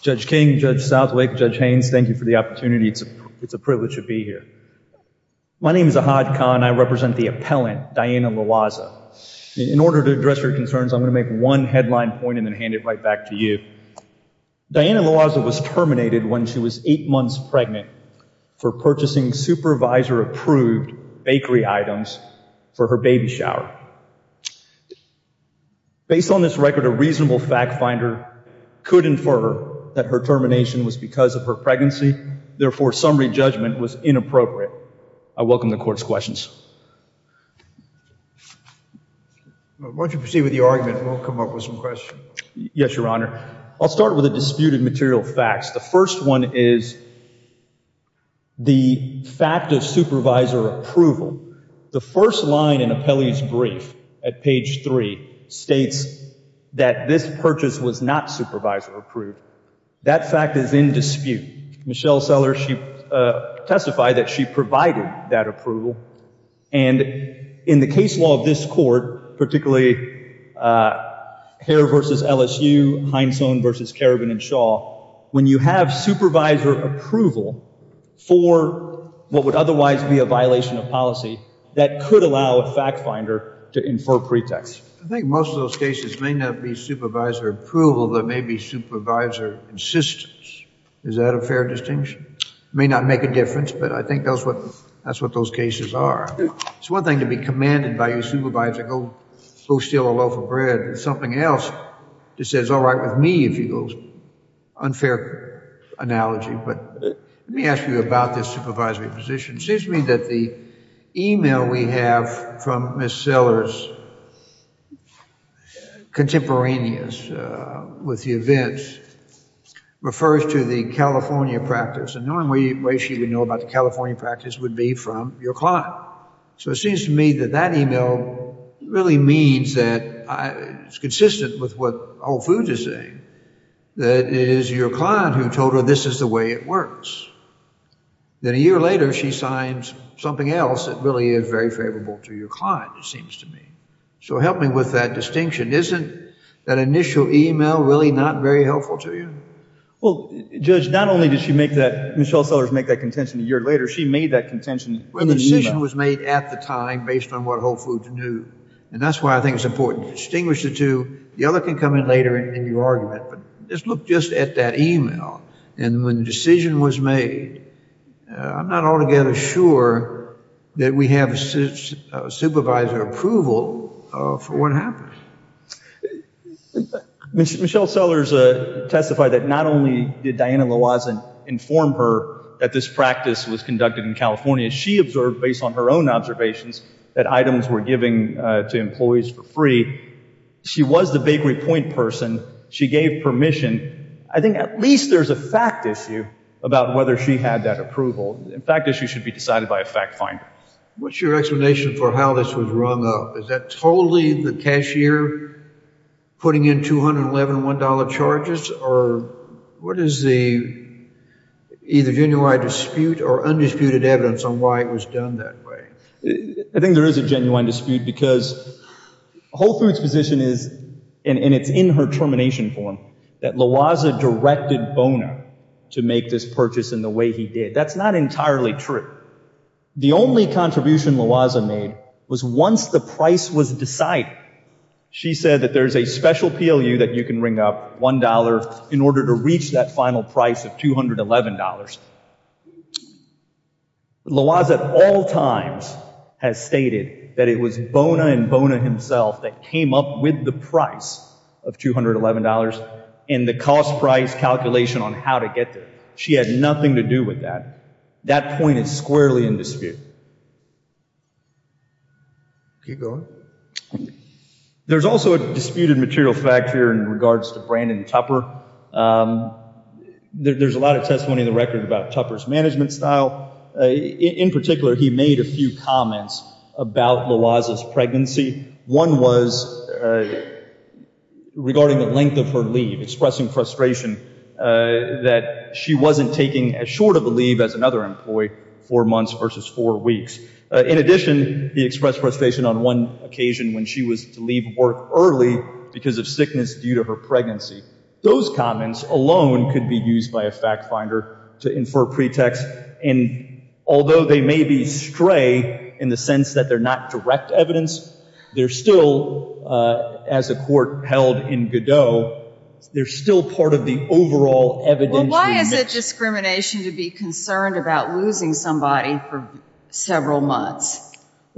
Judge King, Judge Southwick, Judge Haynes, thank you for the opportunity. It's a privilege to be here. My name is Ahad Khan. I represent the appellant, Diana Loayza. In order to address her concerns, I'm going to make one headline point and then hand it right back to you. Diana Loayza was terminated when she was eight months pregnant for purchasing supervisor-approved bakery items for her baby shower. Based on this record, a reasonable fact-finder could infer that her termination was because of her pregnancy. Therefore, summary judgment was inappropriate. I welcome the Court's questions. Why don't you proceed with your argument and we'll come up with some questions. Yes, Your Honor. I'll start with the disputed material facts. The first one is the fact of supervisor approval. The first line in Appellee's brief at page three states that this purchase was not supervisor-approved. That fact is in dispute. Michelle Seller, she testified that she provided that approval. And in the case law of this court, particularly Hare v. LSU, Heinsohn v. Karabin and Shaw, when you have supervisor approval for what would otherwise be a violation of policy, that could allow a fact-finder to infer pretext. I think most of those cases may not be supervisor approval. There may be supervisor insistence. Is that a fair distinction? It may not make a difference, but I think that's what those cases are. It's one thing to be commanded by your supervisor to go steal a loaf of bread. It's something else to say, it's all right with me, if you will. Unfair analogy, but let me ask you about this supervisory position. It seems to me that the email we have from Ms. Sellers, contemporaneous with the events, refers to the California practice. And the only way she would know about the California practice would be from your client. So it seems to me that that email really means that it's consistent with what Whole Foods is saying, that it is your client who told her this is the way it works. Then a year later, she signs something else that really is very favorable to your client, it seems to me. So help me with that distinction. Isn't that initial email really not very helpful to you? Well, Judge, not only did Michelle Sellers make that contention a year later, she made that contention in the email. Well, the decision was made at the time based on what Whole Foods knew, and that's why I think it's important to distinguish the two. The email, look just at that email. And when the decision was made, I'm not altogether sure that we have supervisor approval for what happened. Michelle Sellers testified that not only did Diana Lawazen inform her that this practice was conducted in California, she observed based on her own observations that items were given to employees for free. She was the big report person. She gave permission. I think at least there's a fact issue about whether she had that approval. A fact issue should be decided by a fact finder. What's your explanation for how this was rung up? Is that totally the cashier putting in $211 charges? Or what is the either genuine dispute or undisputed evidence on why it was done that way? I think there is a genuine dispute because Whole Foods' position is, and it's in her determination form, that Lawazen directed Bona to make this purchase in the way he did. That's not entirely true. The only contribution Lawazen made was once the price was decided, she said that there's a special PLU that you can ring up, $1, in order to reach that final price of $211. Lawazen at all times has stated that it was in the cost price calculation on how to get there. She had nothing to do with that. That point is squarely in dispute. There's also a disputed material fact here in regards to Brandon Tupper. There's a lot of testimony in the record about Tupper's management style. In particular, he made a few comments about Lawazen's pregnancy. One was regarding the length of her leave, expressing frustration that she wasn't taking as short of a leave as another employee, four months versus four weeks. In addition, he expressed frustration on one occasion when she was to leave work early because of sickness due to her pregnancy. Those comments alone could be used by a fact finder to infer pretext. And although they may be stray in the sense that they're not direct evidence, they're still, as a court held in Godot, they're still part of the overall evidence. Well, why is it discrimination to be concerned about losing somebody for several months?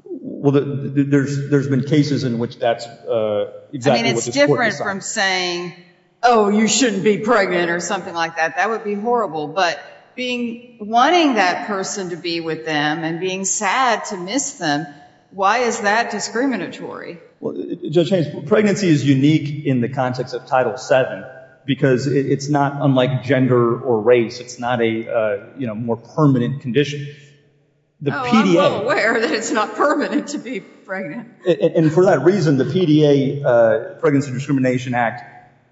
Well, there's been cases in which that's exactly what the court decided. I mean, it's different from saying, oh, you shouldn't be pregnant or something like that. That would be horrible. But wanting that person to be with them and being sad to miss them, why is that discriminatory? Well, Judge Haynes, pregnancy is unique in the context of Title VII because it's not unlike gender or race. It's not a more permanent condition. Oh, I'm well aware that it's not permanent to be pregnant. And for that reason, the PDA, Pregnancy Discrimination Act,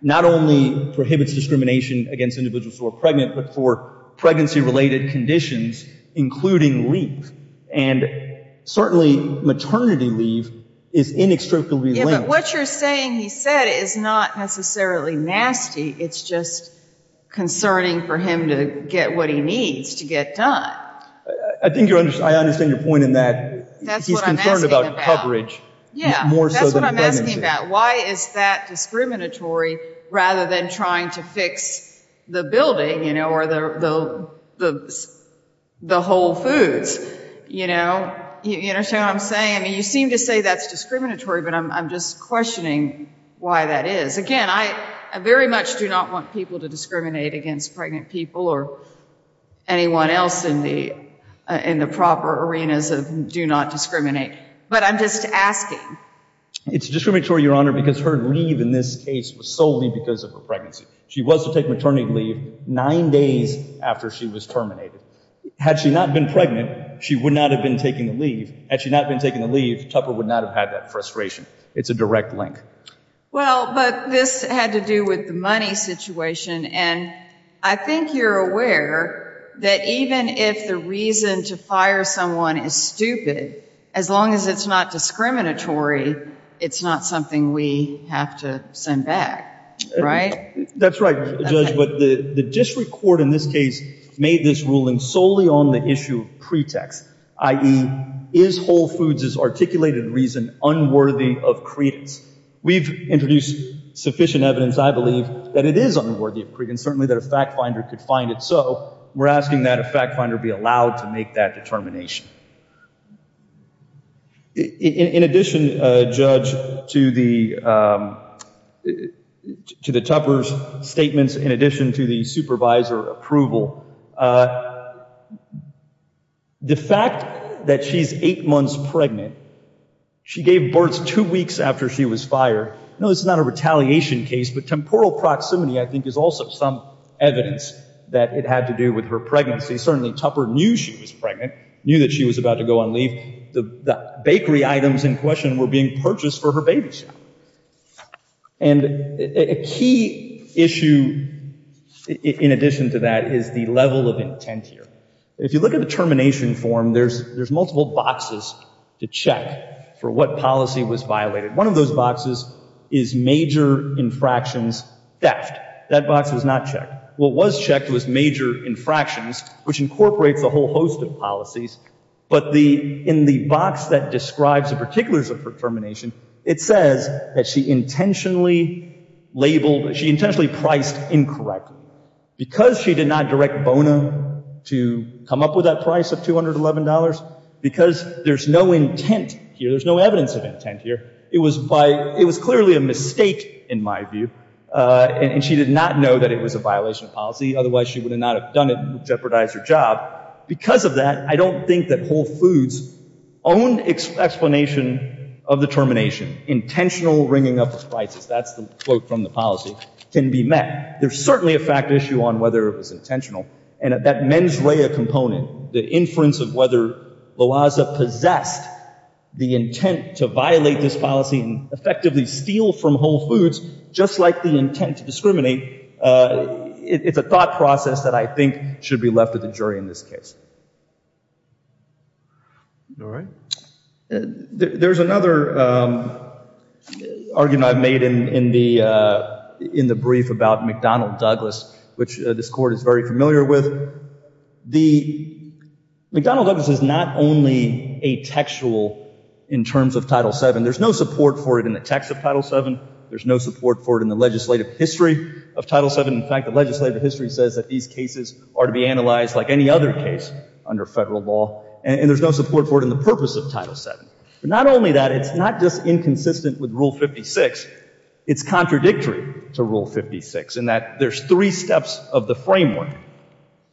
not only prohibits discrimination against individuals who are pregnant, but for pregnancy-related conditions, including leave. And certainly, maternity leave is inextricably linked. Yeah, but what you're saying he said is not necessarily nasty. It's just concerning for him to get what he needs to get done. I think I understand your point in that he's concerned about coverage. Yeah, that's what I'm asking about. Why is that discriminatory rather than trying to fix the building or the whole foods? You know what I'm saying? I mean, you seem to say that's discriminatory, but I'm just questioning why that is. Again, I very much do not want people to discriminate against pregnant people or anyone else in the proper arenas of do not discriminate. But I'm just asking. It's discriminatory, Your Honor, because her leave in this case was solely because of her pregnancy. She was to take maternity leave nine days after she was terminated. Had she not been pregnant, she would not have been taking the leave. Had she not been taking the leave, Tupper would not have had that frustration. It's a direct link. Well, but this had to do with the money situation. And I think you're aware that even if the reason to fire someone is stupid, as long as it's not discriminatory, it's not something we have to send back, right? That's right, Judge. But the district court in this case made this ruling solely on the issue of pretext, i.e. is Whole Foods' articulated reason unworthy of credence? We've introduced sufficient evidence, I believe, that it is unworthy of credence, certainly that a fact finder could find it. So we're asking that a fact finder be allowed to make that determination. In addition, Judge, to the Tupper's statements, in addition to the supervisor approval, the fact that she's eight months pregnant, she gave birth two weeks after she was fired. No, this is not a retaliation case, but temporal proximity, I think, is also some evidence that it had to do with her pregnancy. Certainly, Tupper knew she was pregnant, knew that she was about to go on leave. The bakery items in question were being purchased for her babysitting. And a key issue in addition to that is the level of intent here. If you look at the termination form, there's multiple boxes to check for what policy was One of those boxes is major infractions theft. That box was not checked. What was checked was major infractions, which incorporates a whole host of policies. But in the box that describes the particulars of her termination, it says that she intentionally labeled, she intentionally priced incorrectly. Because she did not direct Bona to come up with that price of $211, because there's no intent here, there's no evidence of intent here, it was clearly a mistake in my view. And she did not know that it was a violation of policy. Otherwise, she would not have done it and jeopardized her job. Because of that, I don't think that Whole Foods' own explanation of the termination, intentional ringing up of prices, that's the quote from the policy, can be met. There's certainly a fact issue on whether it was intentional. And that mens rea component, the inference of whether Loaza possessed the intent to violate this policy and effectively steal from Whole Foods, just like the intent to discriminate, it's a thought process that I think should be left with the jury in this case. All right. There's another argument I've made in the brief about McDonnell Douglas, which this court is very familiar with. The McDonnell Douglas is not only a textual in terms of Title VII, there's no support for it in the text of Title VII, there's no support for it in the legislative history of Title VII. In fact, the legislative history says that these cases are to be analyzed like any other case under federal law, and there's no support for it in the purpose of Title VII. But not only that, it's not just inconsistent with Rule 56, it's contradictory to Rule 56 in that there's three steps of the framework.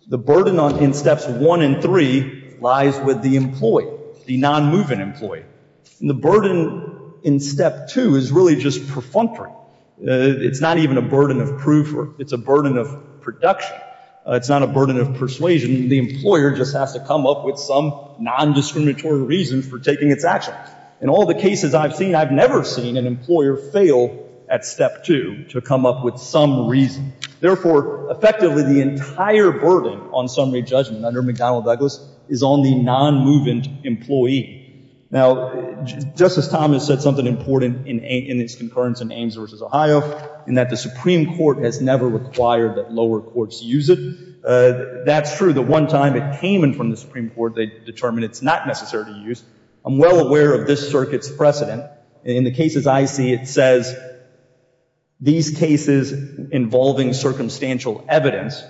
The burden in Steps 1 and 3 lies with the employee, the non-moving employee. The burden in Step 2 is really just perfunctory. It's not even a burden of proof. It's a burden of production. It's not a burden of persuasion. The employer just has to come up with some non-discriminatory reason for taking its action. In all the cases I've seen, I've never seen an employer fail at Step 2 to come up with some reason. Therefore, effectively, the entire burden on summary judgment under McDonnell-Douglas is on the non-moving employee. Now, Justice Thomas said something important in its concurrence in Ames v. Ohio, in that the Supreme Court has never required that lower courts use it. That's true. The one time it came in from the Supreme Court, they determined it's not necessary to use. I'm well aware of this circuit's precedent. In the cases I see, it says these cases involving circumstantial evidence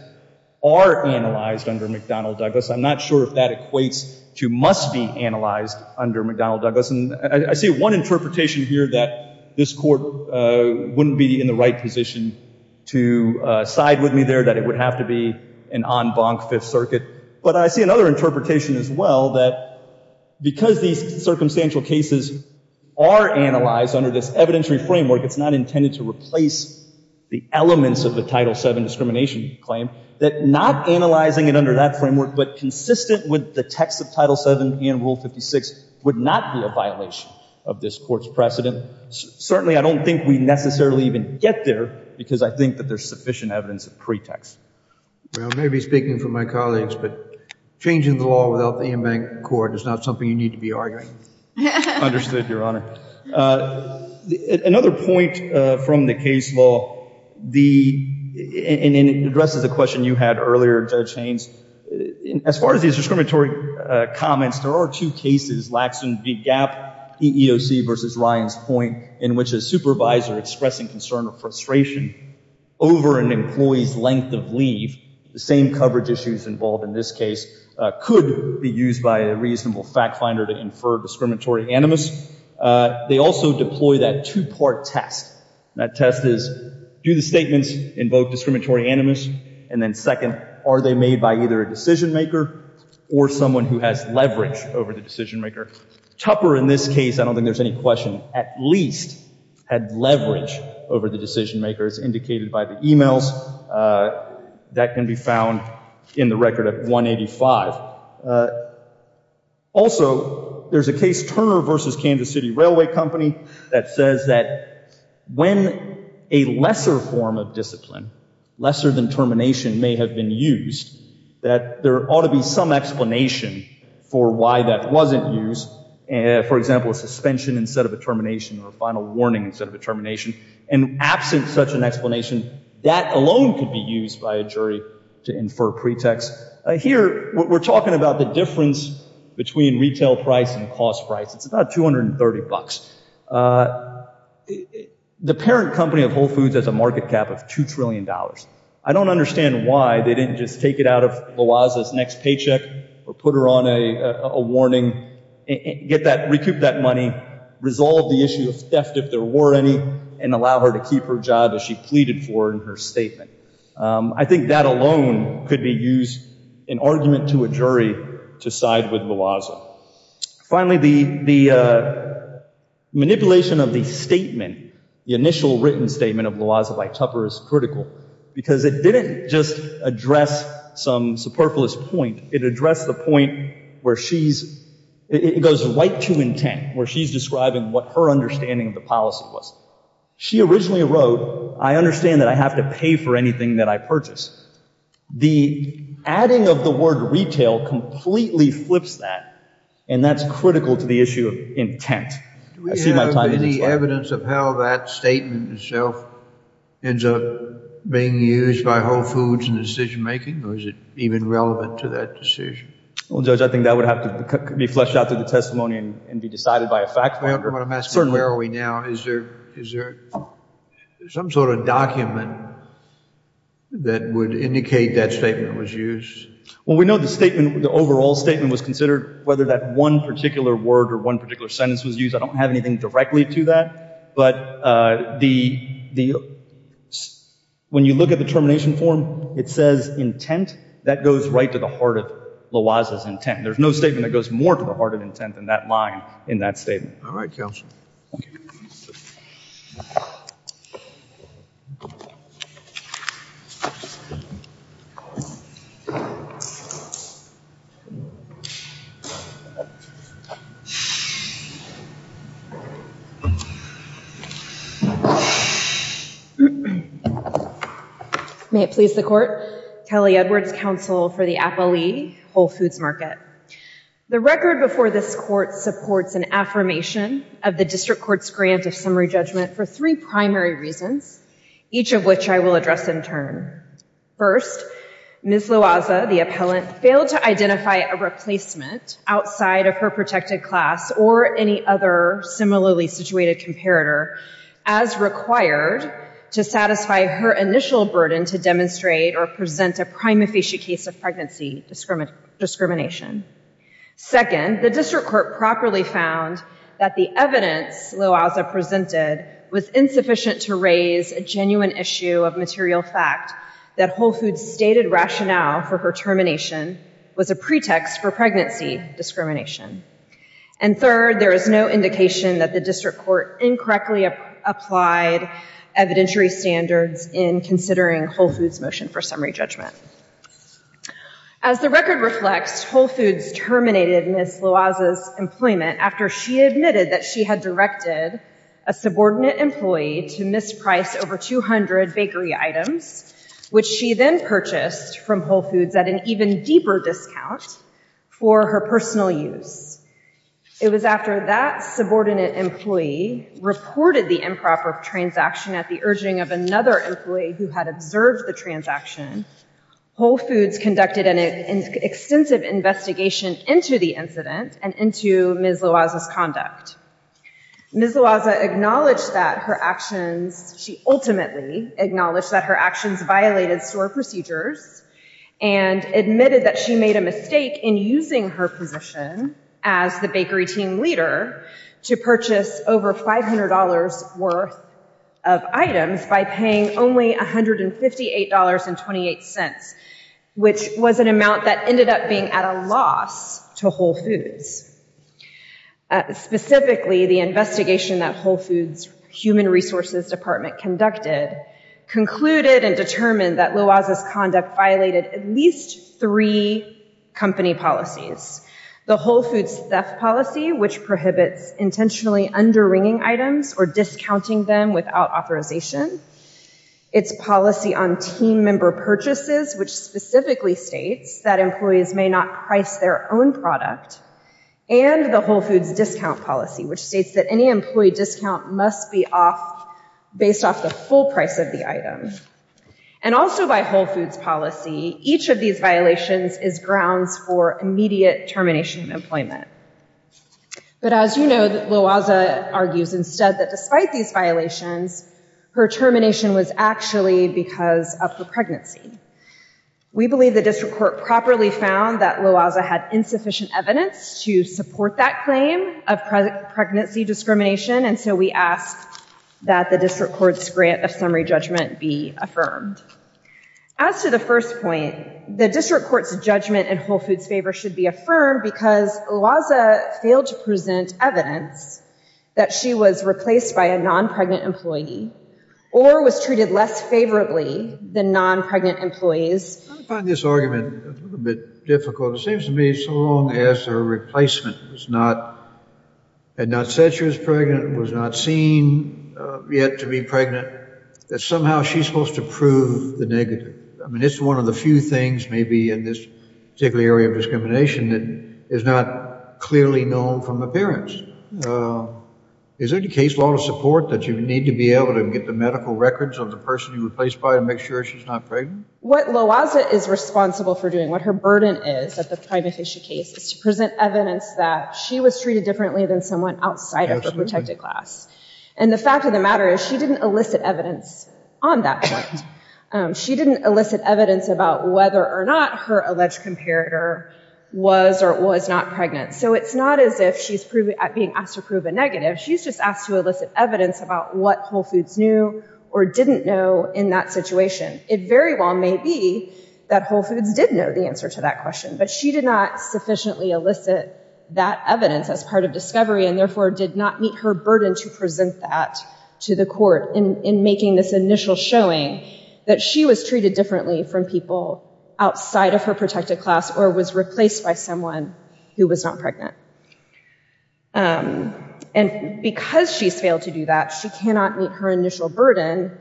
are analyzed under McDonnell-Douglas. I'm not sure if that equates to must be analyzed under McDonnell-Douglas. And I see one interpretation here that this court wouldn't be in the right position to side with me there, that it would have to be an en banc Fifth Circuit. But I see another interpretation as well, that because these circumstantial cases are analyzed under this evidentiary framework, it's not intended to replace the elements of the Title VII discrimination claim, that not analyzing it under that framework, but consistent with the text of Title VII and Rule 56, would not be a violation of this court's precedent. Certainly, I don't think we necessarily even get there, because I think that there's sufficient evidence of pretext. Well, maybe speaking for my colleagues, but changing the law without the en banc court is not something you need to be arguing. Understood, Your Honor. Another point from the case law, and it addresses a question you had earlier, Judge Haynes. As far as these discriminatory comments, there are two cases, Lackson v. Gap, EEOC versus Ryan's point, in which a supervisor expressing concern or frustration over an employee's length of leave, the same coverage issues involved in this case, could be used by a reasonable fact finder to infer discriminatory animus. They also deploy that two-part test. That test is, do the statements invoke discriminatory animus? And then second, are they made by either a decision maker or someone who has leverage over the decision maker? Tupper, in this case, I don't think there's any question, at least had leverage over the decision maker. As indicated by the emails, that can be found in the record at 185. Also, there's a case, Turner v. Kansas City Railway Company, that says that when a lesser form of discipline, lesser than termination, may have been used, that there ought to be some explanation for why that wasn't used. For example, a suspension instead of a termination, or a final warning instead of a termination. And absent such an explanation, that alone could be used by a jury to infer pretext. Here, we're talking about the difference between retail price and cost price. It's about 230 bucks. The parent company of Whole Foods has a market cap of $2 trillion. I don't understand why they didn't just take it out of Lawaza's next paycheck, or put her on a warning, get that, recoup that money, resolve the issue of theft if there were any, and allow her to keep her job as she pleaded for in her statement. I think that alone could be used in argument to a jury to side with Lawaza. Finally, the manipulation of the statement, the initial written statement of Lawaza by Tupper is critical, because it didn't just address some superfluous point, it addressed the point where she's, it goes right to intent, where she's describing what her understanding of the policy was. She originally wrote, I understand that I have to pay for anything that I purchase. The adding of the word retail completely flips that, and that's critical to the issue of intent. Do we have any evidence of how that statement itself ends up being used by Whole Foods in decision making, or is it even relevant to that decision? Well, Judge, I think that would have to be fleshed out through the testimony and be decided by a fact finder. I'm asking, where are we now? Is there some sort of document that would indicate that statement was used? Well, we know the statement, the overall statement was considered, whether that one particular word or one particular sentence was used. I don't have anything directly to that, but when you look at the termination form, it says intent, that goes right to the heart of Lawaza's intent. There's no statement that goes more to the heart of intent than that line in that statement. All right, counsel. May it please the court. Kelly Edwards, counsel for the Apolli Whole Foods Market. The record before this court supports an affirmation of the district court's grant of summary judgment for three primary reasons, each of which I will address in turn. First, Ms. Lawaza, the appellant, failed to identify a replacement outside of her protected class or any other similarly situated comparator as required to satisfy her initial burden to demonstrate or present a prima facie case of pregnancy discrimination. Second, the district court properly found that the evidence Lawaza presented was insufficient to raise a genuine issue of material fact that Whole Foods' stated rationale for her termination was a pretext for pregnancy discrimination. And third, there is no indication that the district court incorrectly applied evidentiary standards in considering Whole Foods' motion for summary judgment. As the record reflects, Whole Foods terminated Ms. Lawaza's employment after she admitted that she had directed a subordinate employee to misprice over 200 bakery items, which she then purchased from Whole Foods at an even deeper discount for her personal use. It was after that subordinate employee reported the improper transaction at the urging of another employee who had observed the transaction, Whole Foods conducted an extensive investigation into the incident and into Ms. Lawaza's conduct. Ms. Lawaza acknowledged that her actions, she ultimately acknowledged that her actions violated store procedures and admitted that she made a mistake in using her position as the bakery team leader to purchase over $500 worth of items by paying only $158.28, which was an amount that ended up being at a loss to Whole Foods. Specifically, the investigation that Whole Foods Human Resources Department conducted concluded and determined that Lawaza's conduct violated at least three company policies. The Whole Foods theft policy, which prohibits intentionally underwringing items or discounting them without authorization. Its policy on team member purchases, which specifically states that employees may not price their own product. And the Whole Foods discount policy, which states that any employee discount must be based off the full price of the item. And also by Whole Foods policy, each of these violations is grounds for immediate termination of employment. But as you know, Lawaza argues instead that despite these violations, her termination was actually because of her pregnancy. We believe the district court properly found that Lawaza had insufficient evidence to support that claim of pregnancy discrimination. And so we ask that the district court's grant of summary judgment be affirmed. As to the first point, the district court's judgment in Whole Foods favor should be affirmed because Lawaza failed to present evidence that she was replaced by a non-pregnant employee or was treated less favorably than non-pregnant employees. I find this argument a bit difficult. It seems to me so long as her replacement had not said she was pregnant, was not seen yet to be pregnant, that somehow she's supposed to prove the negative. I mean, it's one of the few things maybe in this particular area of discrimination that is not clearly known from appearance. Is there any case law to support that you need to be able to get the medical records of the person you replaced by to make sure she's not pregnant? What Lawaza is responsible for doing, what her burden is at the time of case is to present evidence that she was treated differently than someone outside of her protected class. And the fact of the matter is she didn't elicit evidence on that point. She didn't elicit evidence about whether or not her alleged comparator was or was not pregnant. So it's not as if she's being asked to prove a negative. She's just asked to elicit evidence about what Whole Foods knew or didn't know in that situation. It very well may be that Whole Foods did know the answer to that question, but she did not sufficiently elicit that evidence as part of discovery and therefore did not meet her burden to present that to the court in making this initial showing that she was treated differently from people outside of her protected class or was replaced by someone who was not pregnant. And because she's failed to do that, she cannot meet her initial burden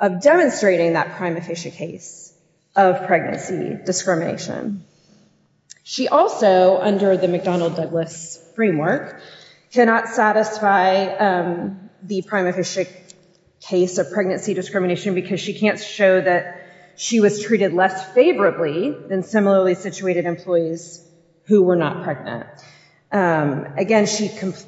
of demonstrating that prima facie case of pregnancy discrimination. She also, under the McDonnell-Douglas framework, cannot satisfy the prima facie case of pregnancy discrimination because she can't show that she was treated less favorably than similarly situated employees who were not pregnant. Again,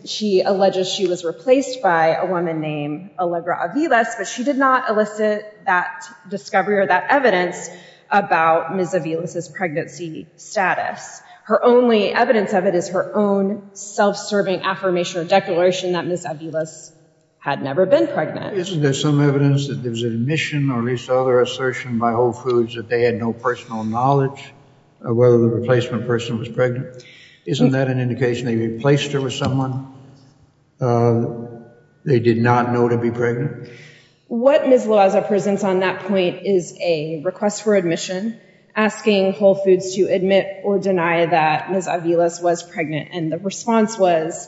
she alleges she was replaced by a woman named Allegra Aviles, but she did not elicit that discovery or that evidence about Ms. Aviles' pregnancy status. Her only evidence of it is her own self-serving affirmation or declaration that Ms. Aviles had never been pregnant. Isn't there some evidence that there was an admission or at least other assertion by Whole Foods that they had no personal knowledge of whether the replacement person was pregnant? Isn't that an indication they replaced her with someone they did not know to be pregnant? What Ms. Loaza presents on that point is a request for admission, asking Whole Foods to admit or deny that Ms. Aviles was pregnant. And the response was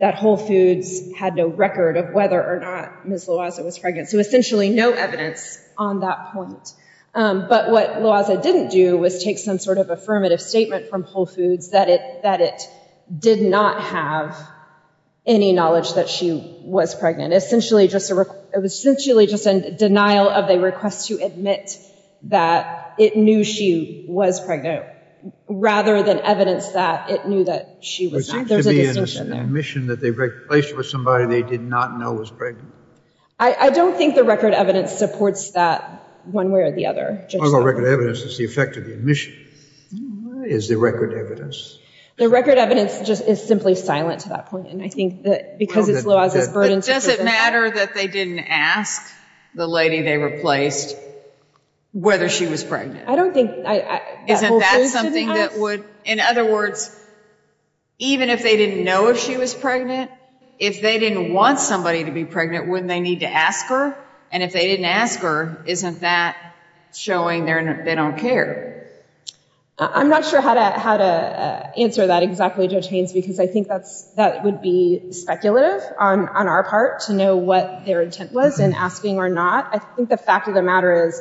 that Whole Foods had no record of whether or not Ms. Loaza was pregnant. So essentially, no evidence on that point. But what Loaza didn't do was take some sort of affirmative statement from Whole Foods that it did not have any knowledge that she was pregnant. Essentially, it was essentially just a denial of a request to admit that it knew she was pregnant. Rather than evidence that it knew that she was not. There's an assertion there. that they replaced her with somebody they did not know was pregnant. I don't think the record evidence supports that one way or the other. I'll go record evidence as the effect of the admission. Is there record evidence? The record evidence just is simply silent to that point. And I think that because it's Loaza's burden to present that. But does it matter that they didn't ask the lady they replaced whether she was pregnant? I don't think that Whole Foods did that. In other words, even if they didn't know if she was pregnant, if they didn't want somebody to be pregnant, wouldn't they need to ask her? And if they didn't ask her, isn't that showing they don't care? I'm not sure how to answer that exactly, Judge Haynes. Because I think that would be speculative on our part to know what their intent was in asking or not. I think the fact of the matter is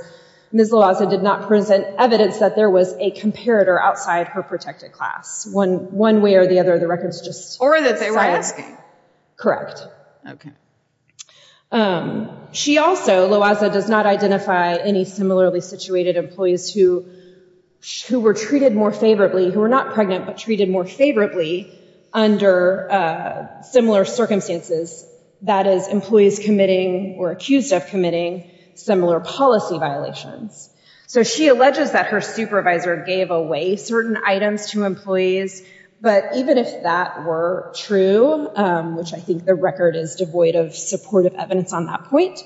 Ms. Loaza did not present evidence that there was a comparator outside her protected class. One way or the other, the record's just silent. Or that they weren't asking. Correct. She also, Loaza, does not identify any similarly situated employees who were treated more favorably, who were not pregnant, but treated more favorably under similar circumstances. That is, employees committing or accused of committing similar policy violations. So she alleges that her supervisor gave away certain items to employees. But even if that were true, which I think the record is devoid of supportive evidence on that point,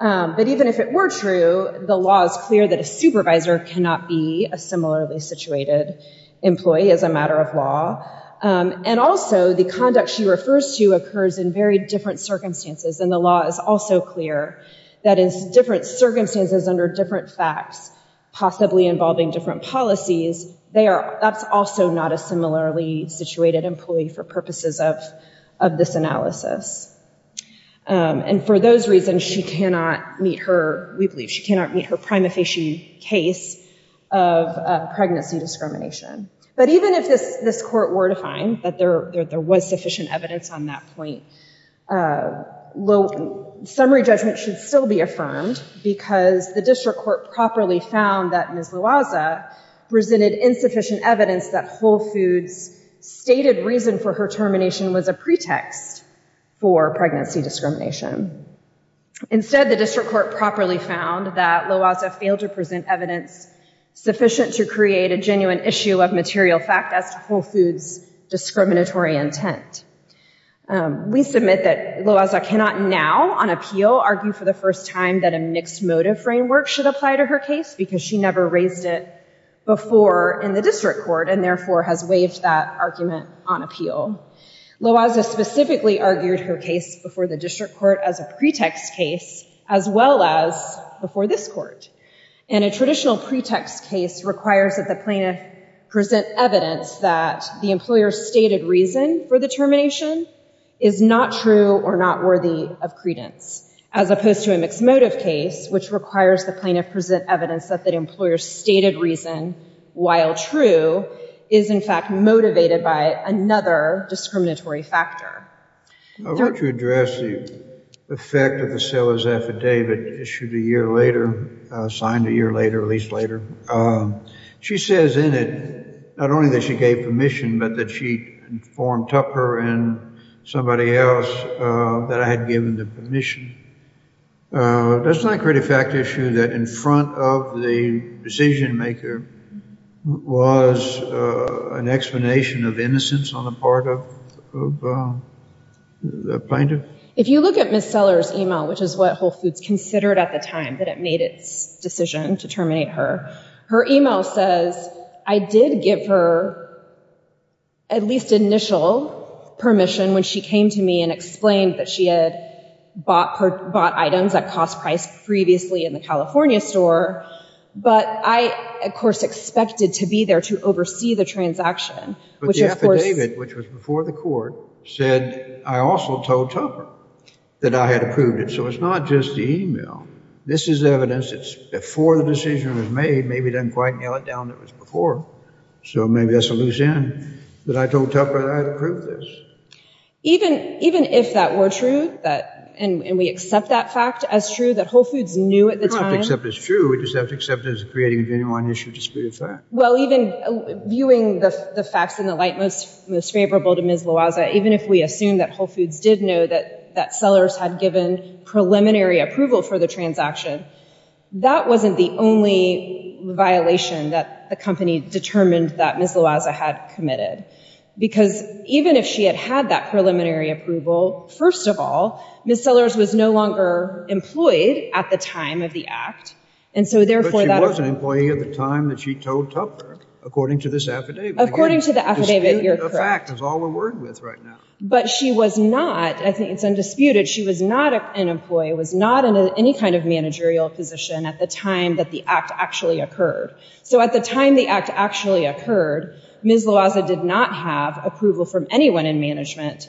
but even if it were true, the law is clear that a supervisor cannot be a similarly situated employee as a matter of law. And also, the conduct she refers to occurs in very different circumstances. And the law is also clear that in different circumstances under different facts, possibly involving different policies, that's also not a similarly situated employee for purposes of this analysis. And for those reasons, she cannot meet her, we believe she cannot meet her prima facie case of pregnancy discrimination. But even if this court were to find that there was sufficient evidence on that point, summary judgment should still be affirmed because the district court properly found that Ms. Loaza presented insufficient evidence that Whole Foods stated reason for her termination was a pretext for pregnancy discrimination. Instead, the district court properly found that Loaza failed to present evidence sufficient to create a genuine issue of material fact as to Whole Foods discriminatory intent. We submit that Loaza cannot now on appeal argue for the first time that a mixed motive framework should apply to her case because she never raised it before in the district court and therefore has waived that argument on appeal. Loaza specifically argued her case before the district court as a pretext case, as well as before this court. And a traditional pretext case requires that the plaintiff present evidence that the employer stated reason for the termination is not true or not worthy of credence, as opposed to a mixed motive case, which requires the plaintiff present evidence that the employer stated reason, while true, is in fact motivated by another discriminatory factor. I want to address the effect of the seller's affidavit issued a year later, signed a year later, at least later. She says in it, not only that she gave permission, but that she informed Tupper and somebody else that I had given the permission. Doesn't that create a fact issue that in front of the decision maker was an explanation of innocence on the part of the plaintiff? If you look at Ms. Seller's email, which is what Whole Foods considered at the time that it made its decision to terminate her, her email says, I did give her at least initial permission when she came to me and explained that she had bought items at cost price previously in the California store. But I, of course, expected to be there to oversee the transaction. But the affidavit, which was before the court, said I also told Tupper that I had approved it. So it's not just the email. This is evidence. It's before the decision was made. Maybe it doesn't quite nail it down that it was before. So maybe that's a loose end, that I told Tupper that I had approved this. Even if that were true, and we accept that fact as true, that Whole Foods knew at the time. You don't have to accept it as true. You just have to accept it as creating a genuine issue of disputed fact. Well, even viewing the facts in the light most favorable to Ms. Loaza, even if we assume that Whole Foods did know that Sellers had given preliminary approval for the transaction, that wasn't the only violation that the company determined that Ms. Loaza had committed. Because even if she had had that preliminary approval, first of all, Ms. Sellers was no longer employed at the time of the act. And so therefore, she was an employee at the time that she told Tupper, according to this affidavit. According to the affidavit, you're correct. That's all we're worried with right now. But she was not, I think it's undisputed, she was not an employee, was not in any kind of managerial position at the time that the act actually occurred. So at the time the act actually occurred, Ms. Loaza did not have approval from anyone in management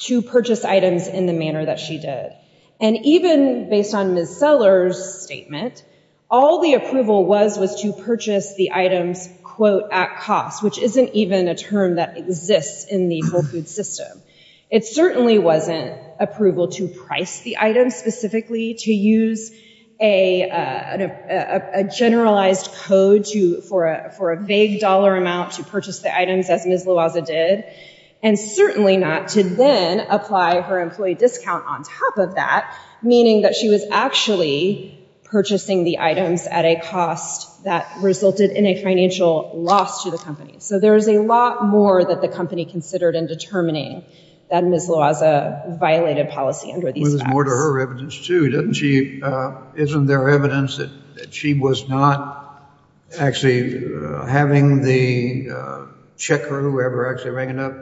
to purchase items in the manner that she did. And even based on Ms. Sellers' statement, all the approval was was to purchase the items, quote, at cost, which isn't even a term that exists in the Whole Foods system. It certainly wasn't approval to price the items specifically, to use a generalized code for a vague dollar amount to purchase the items as Ms. Loaza did. And certainly not to then apply her employee discount on top of that, meaning that she was actually purchasing the items at a cost that resulted in a financial loss to the company. So there's a lot more that the company considered in determining that Ms. Loaza violated policy under these facts. But there's more to her evidence too, doesn't she? Isn't there evidence that she was not actually having the checker, whoever actually rang it up,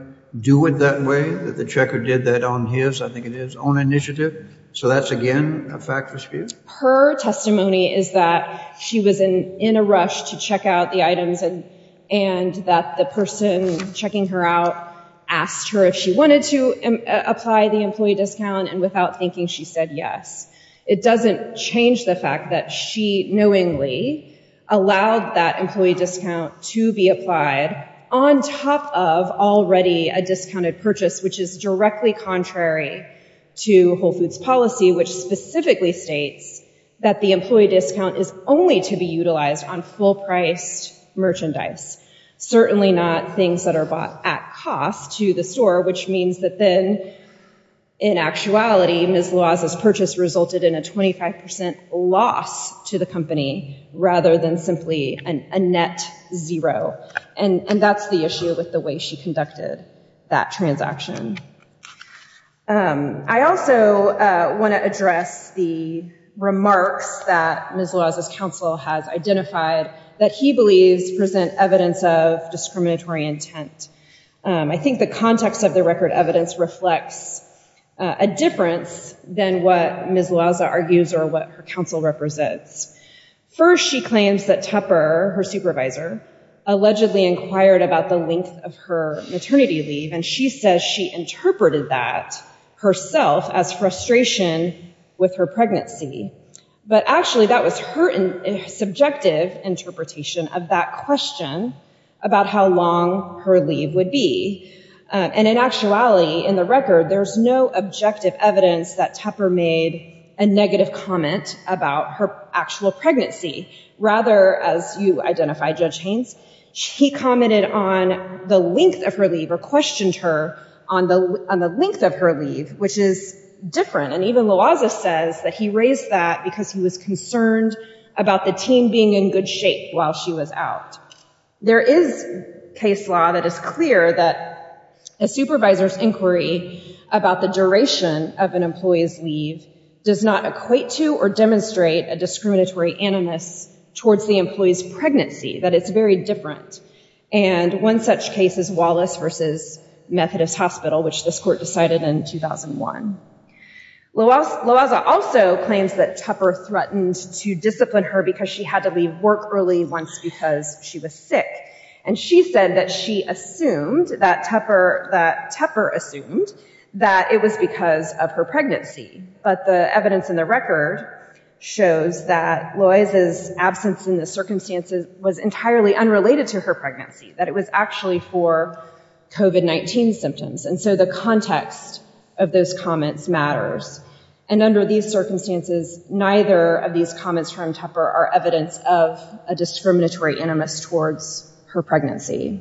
do it that way, that the checker did that on his, I think it is, own initiative? So that's, again, a fact for Spear. Her testimony is that she was in a rush to check out the items and that the person checking her out asked her if she wanted to apply the employee discount and without thinking, she said yes. It doesn't change the fact that she knowingly allowed that employee discount to be applied on top of already a discounted purchase, which is directly contrary to Whole Foods policy, which specifically states that the employee discount is only to be utilized on full-priced merchandise, certainly not things that are bought at cost to the store, which means that then, in actuality, Ms. Loaza's purchase resulted in a 25% loss to the company rather than simply a net zero. And that's the issue with the way she conducted that transaction. I also want to address the remarks that Ms. Loaza's counsel has identified that he believes present evidence of discriminatory intent. I think the context of the record evidence reflects a difference than what Ms. Loaza argues or what her counsel represents. First, she claims that Tupper, her supervisor, allegedly inquired about the length of her maternity leave, and she says she interpreted that herself as frustration with her pregnancy. But actually, that was her subjective interpretation of that question about how long her leave would be. And in actuality, in the record, there's no objective evidence that Tupper made a negative comment about her actual pregnancy. Rather, as you identify, Judge Haynes, he commented on the length of her leave or questioned her on the length of her leave, which is different. And even Loaza says that he raised that because he was concerned about the team being in good shape while she was out. There is case law that is clear that a supervisor's inquiry about the duration of an employee's leave does not equate to or demonstrate a discriminatory animus towards the employee's pregnancy. That it's very different. And one such case is Wallace versus Methodist Hospital, which this court decided in 2001. Loaza also claims that Tupper threatened to discipline her because she had to leave work early once because she was sick. And she said that she assumed that Tupper assumed that it was because of her pregnancy. But the evidence in the record shows that Loaza's absence in the circumstances was entirely unrelated to her pregnancy. That it was actually for COVID-19 symptoms. And so the context of those comments matters. And under these circumstances, neither of these comments from Tupper are evidence of a discriminatory animus towards her pregnancy.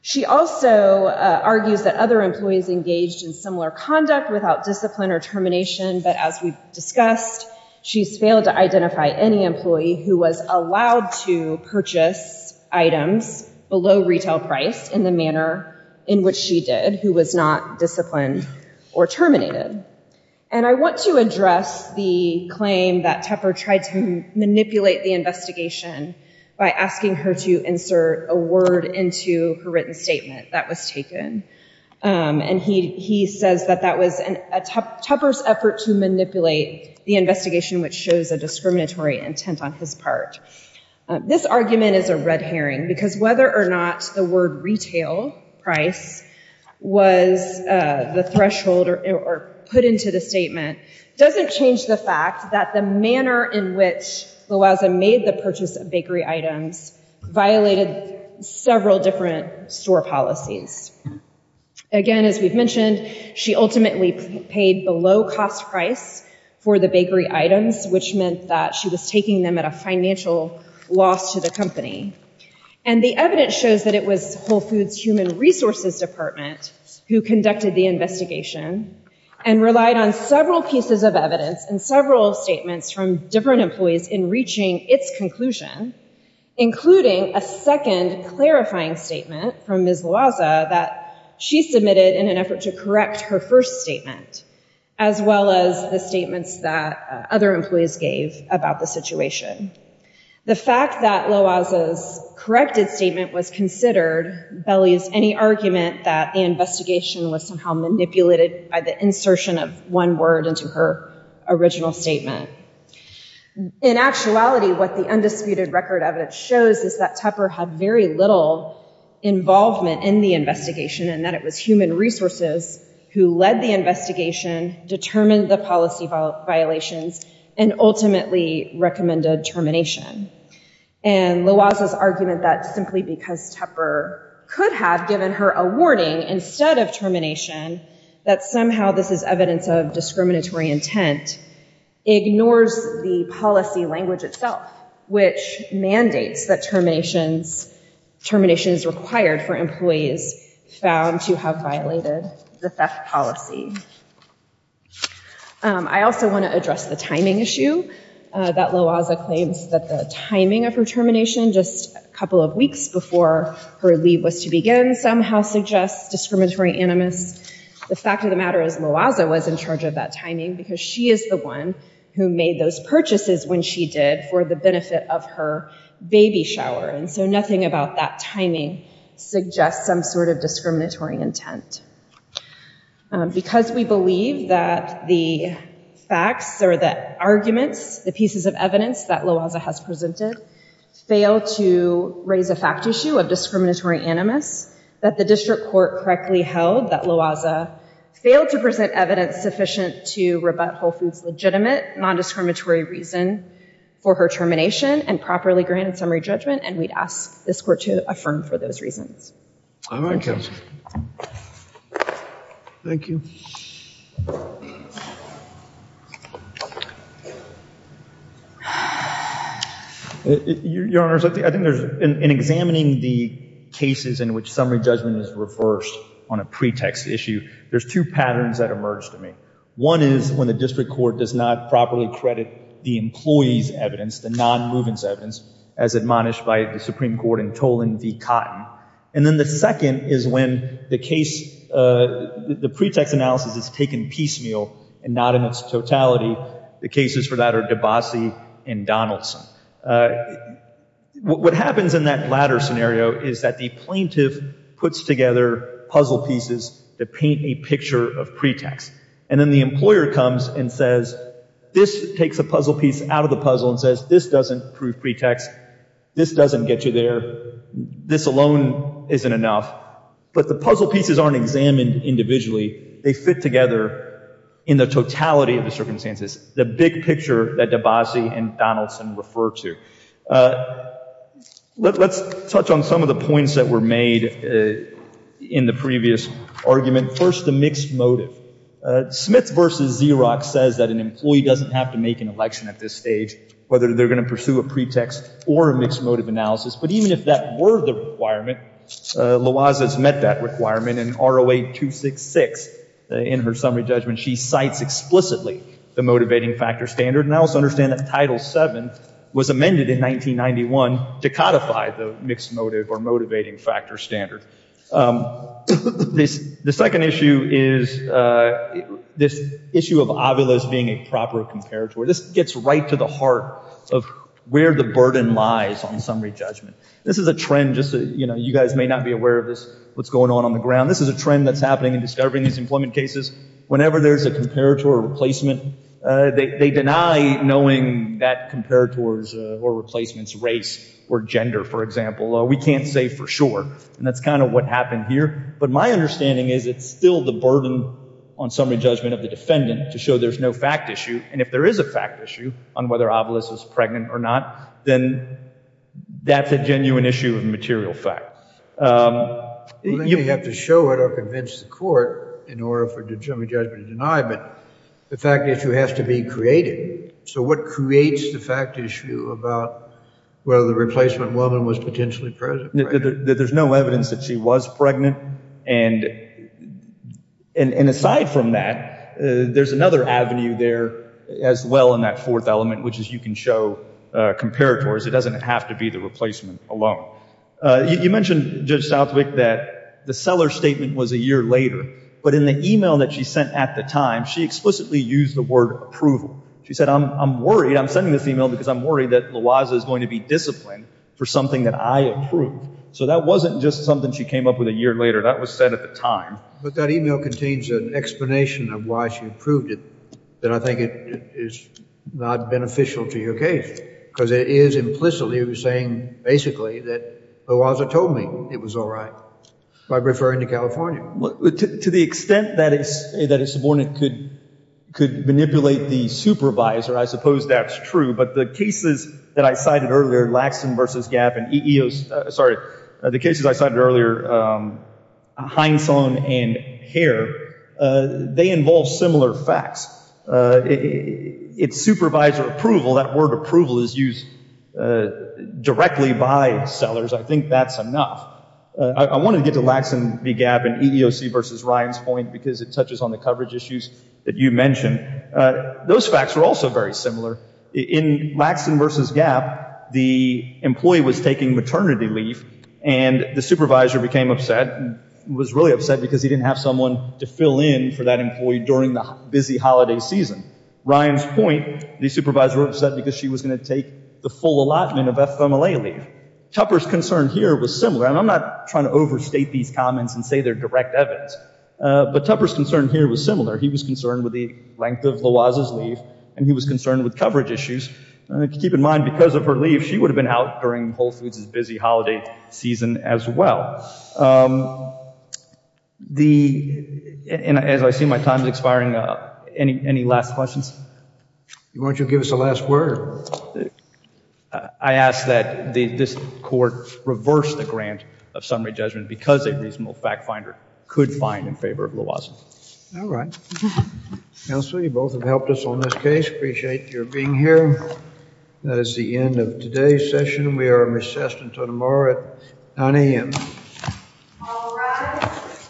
She also argues that other employees engaged in similar conduct without discipline or termination. But as we've discussed, she's failed to identify any employee who was allowed to purchase items below retail price in the manner in which she did, who was not disciplined or terminated. And I want to address the claim that Tupper tried to manipulate the investigation by asking her to insert a word into her written statement that was taken. And he says that that was Tupper's effort to manipulate the investigation, which shows a discriminatory intent on his part. This argument is a red herring, because whether or not the word retail price was the threshold or put into the statement, doesn't change the fact that the manner in which Loaza made the purchase of bakery items violated several different store policies. Again, as we've mentioned, she ultimately paid below cost price for the bakery items, which meant that she was taking them at a financial loss to the company. And the evidence shows that it was Whole Foods Human Resources Department who conducted the investigation and relied on several pieces of evidence and several statements from different employees in reaching its conclusion, including a second clarifying statement from Ms. Loaza that she submitted in an effort to correct her first statement, as well as the statements that other employees gave about the situation. The fact that Loaza's corrected statement was considered bellies any argument that the investigation was somehow manipulated by the insertion of one word into her original statement. In actuality, what the undisputed record of it shows is that Tupper had very little involvement in the investigation and that it was human resources who led the investigation, determined the policy violations, and ultimately recommended termination. And Loaza's argument that simply because Tupper could have given her a warning instead of termination, that somehow this is evidence of discriminatory intent ignores the policy language itself, which mandates that termination is required for employees found to have violated the theft policy. I also want to address the timing issue that Loaza claims that the timing of her termination, just a couple of weeks before her leave was to begin, somehow suggests discriminatory animus. The fact of the matter is Loaza was in charge of that timing because she is the one who made those purchases when she did for the benefit of her baby shower. And so nothing about that timing suggests some sort of discriminatory intent. Because Loaza's argument is we believe that the facts or the arguments, the pieces of evidence that Loaza has presented fail to raise a fact issue of discriminatory animus, that the district court correctly held that Loaza failed to present evidence sufficient to rebut Whole Foods' legitimate non-discriminatory reason for her termination and properly granted summary judgment. And we'd ask this court to affirm for those reasons. All right, counsel. Thank you. Your Honor, I think there's, in examining the cases in which summary judgment is reversed on a pretext issue, there's two patterns that emerge to me. One is when the district court does not properly credit the employee's evidence, the non-movance evidence, as admonished by the Supreme Court in Tolan v. Cotton. And then the second is when the case, the pretext analysis is taken piecemeal and not in its totality. The cases for that are DeBassi and Donaldson. What happens in that latter scenario is that the plaintiff puts together puzzle pieces that paint a picture of pretext. And then the employer comes and says, this takes a puzzle piece out of the puzzle and says, this doesn't prove pretext. This doesn't get you there. This alone isn't enough. But the puzzle pieces aren't examined individually. They fit together in the totality of the circumstances, the big picture that DeBassi and Donaldson refer to. Let's touch on some of the points that were made in the previous argument. First, the mixed motive. Smith v. Xerox says that an employee doesn't have to make an election at this stage, whether they're going to pursue a pretext or a mixed motive analysis. But even if that were the requirement, Loaza's met that requirement in ROA 266 in her summary judgment. She cites explicitly the motivating factor standard. And I also understand that Title VII was amended in 1991 to codify the mixed motive or motivating factor standard. The second issue is this issue of ovulas being a proper comparator. This gets right to the heart of where the burden lies on summary judgment. This is a trend, just so you guys may not be aware of this, what's going on on the ground. This is a trend that's happening in discovering these employment cases. Whenever there's a comparator or replacement, they deny knowing that comparators or replacements, race or gender, for example, we can't say for sure. And that's kind of what happened here. But my understanding is it's still the burden on summary judgment of the defendant to show there's no fact issue. And if there is a fact issue on whether ovulus is pregnant or not, then that's a genuine issue of material fact. Well, then you have to show it or convince the court in order for the summary judgment to deny, but the fact issue has to be created. So what creates the fact issue about whether the replacement woman was potentially present? There's no evidence that she was pregnant. And aside from that, there's another avenue there as well in that fourth element, which is you can show comparators. It doesn't have to be the replacement alone. You mentioned, Judge Southwick, that the seller statement was a year later, but in the email that she sent at the time, she explicitly used the word approval. She said, I'm worried. I'm sending this email because I'm worried that Lawaza is going to be disciplined for something that I approved. So that wasn't just something she came up with a year later. That was said at the time. But that email contains an explanation of why she approved it. And I think it is not beneficial to your case because it is implicitly saying, basically, that Lawaza told me it was all right by referring to California. To the extent that a subordinate could manipulate the supervisor, I suppose that's true. But the cases that I cited earlier, Laxon versus Gap and Eos, sorry, the cases I cited earlier, Hindson and Hare, they involve similar facts. It's supervisor approval, that word approval is used directly by sellers. I think that's enough. I want to get to Laxon v. Gap and EEOC versus Ryan's point because it touches on the coverage issues that you mentioned. Those facts were also very similar. In Laxon versus Gap, the employee was taking maternity leave and the supervisor became upset and was really upset because he didn't have someone to fill in for that employee during the busy holiday season. Ryan's point, the supervisor was upset because she was going to take the full allotment of FMLA leave. Tupper's concern here was similar, and I'm not trying to overstate these comments and say they're direct evidence, but Tupper's concern here was similar. He was concerned with the length of Loaza's leave and he was concerned with coverage issues. Keep in mind, because of her leave, she would have been out during Whole Foods' busy holiday season as well. As I see my time expiring, any last questions? Why don't you give us the last word? I ask that this court reverse the grant of summary judgment because a reasonable fact finder could find in favor of Loaza. All right. Counsel, you both have helped us on this case. Appreciate your being here. That is the end of today's session. We are recessed until tomorrow at 9 a.m. All rise.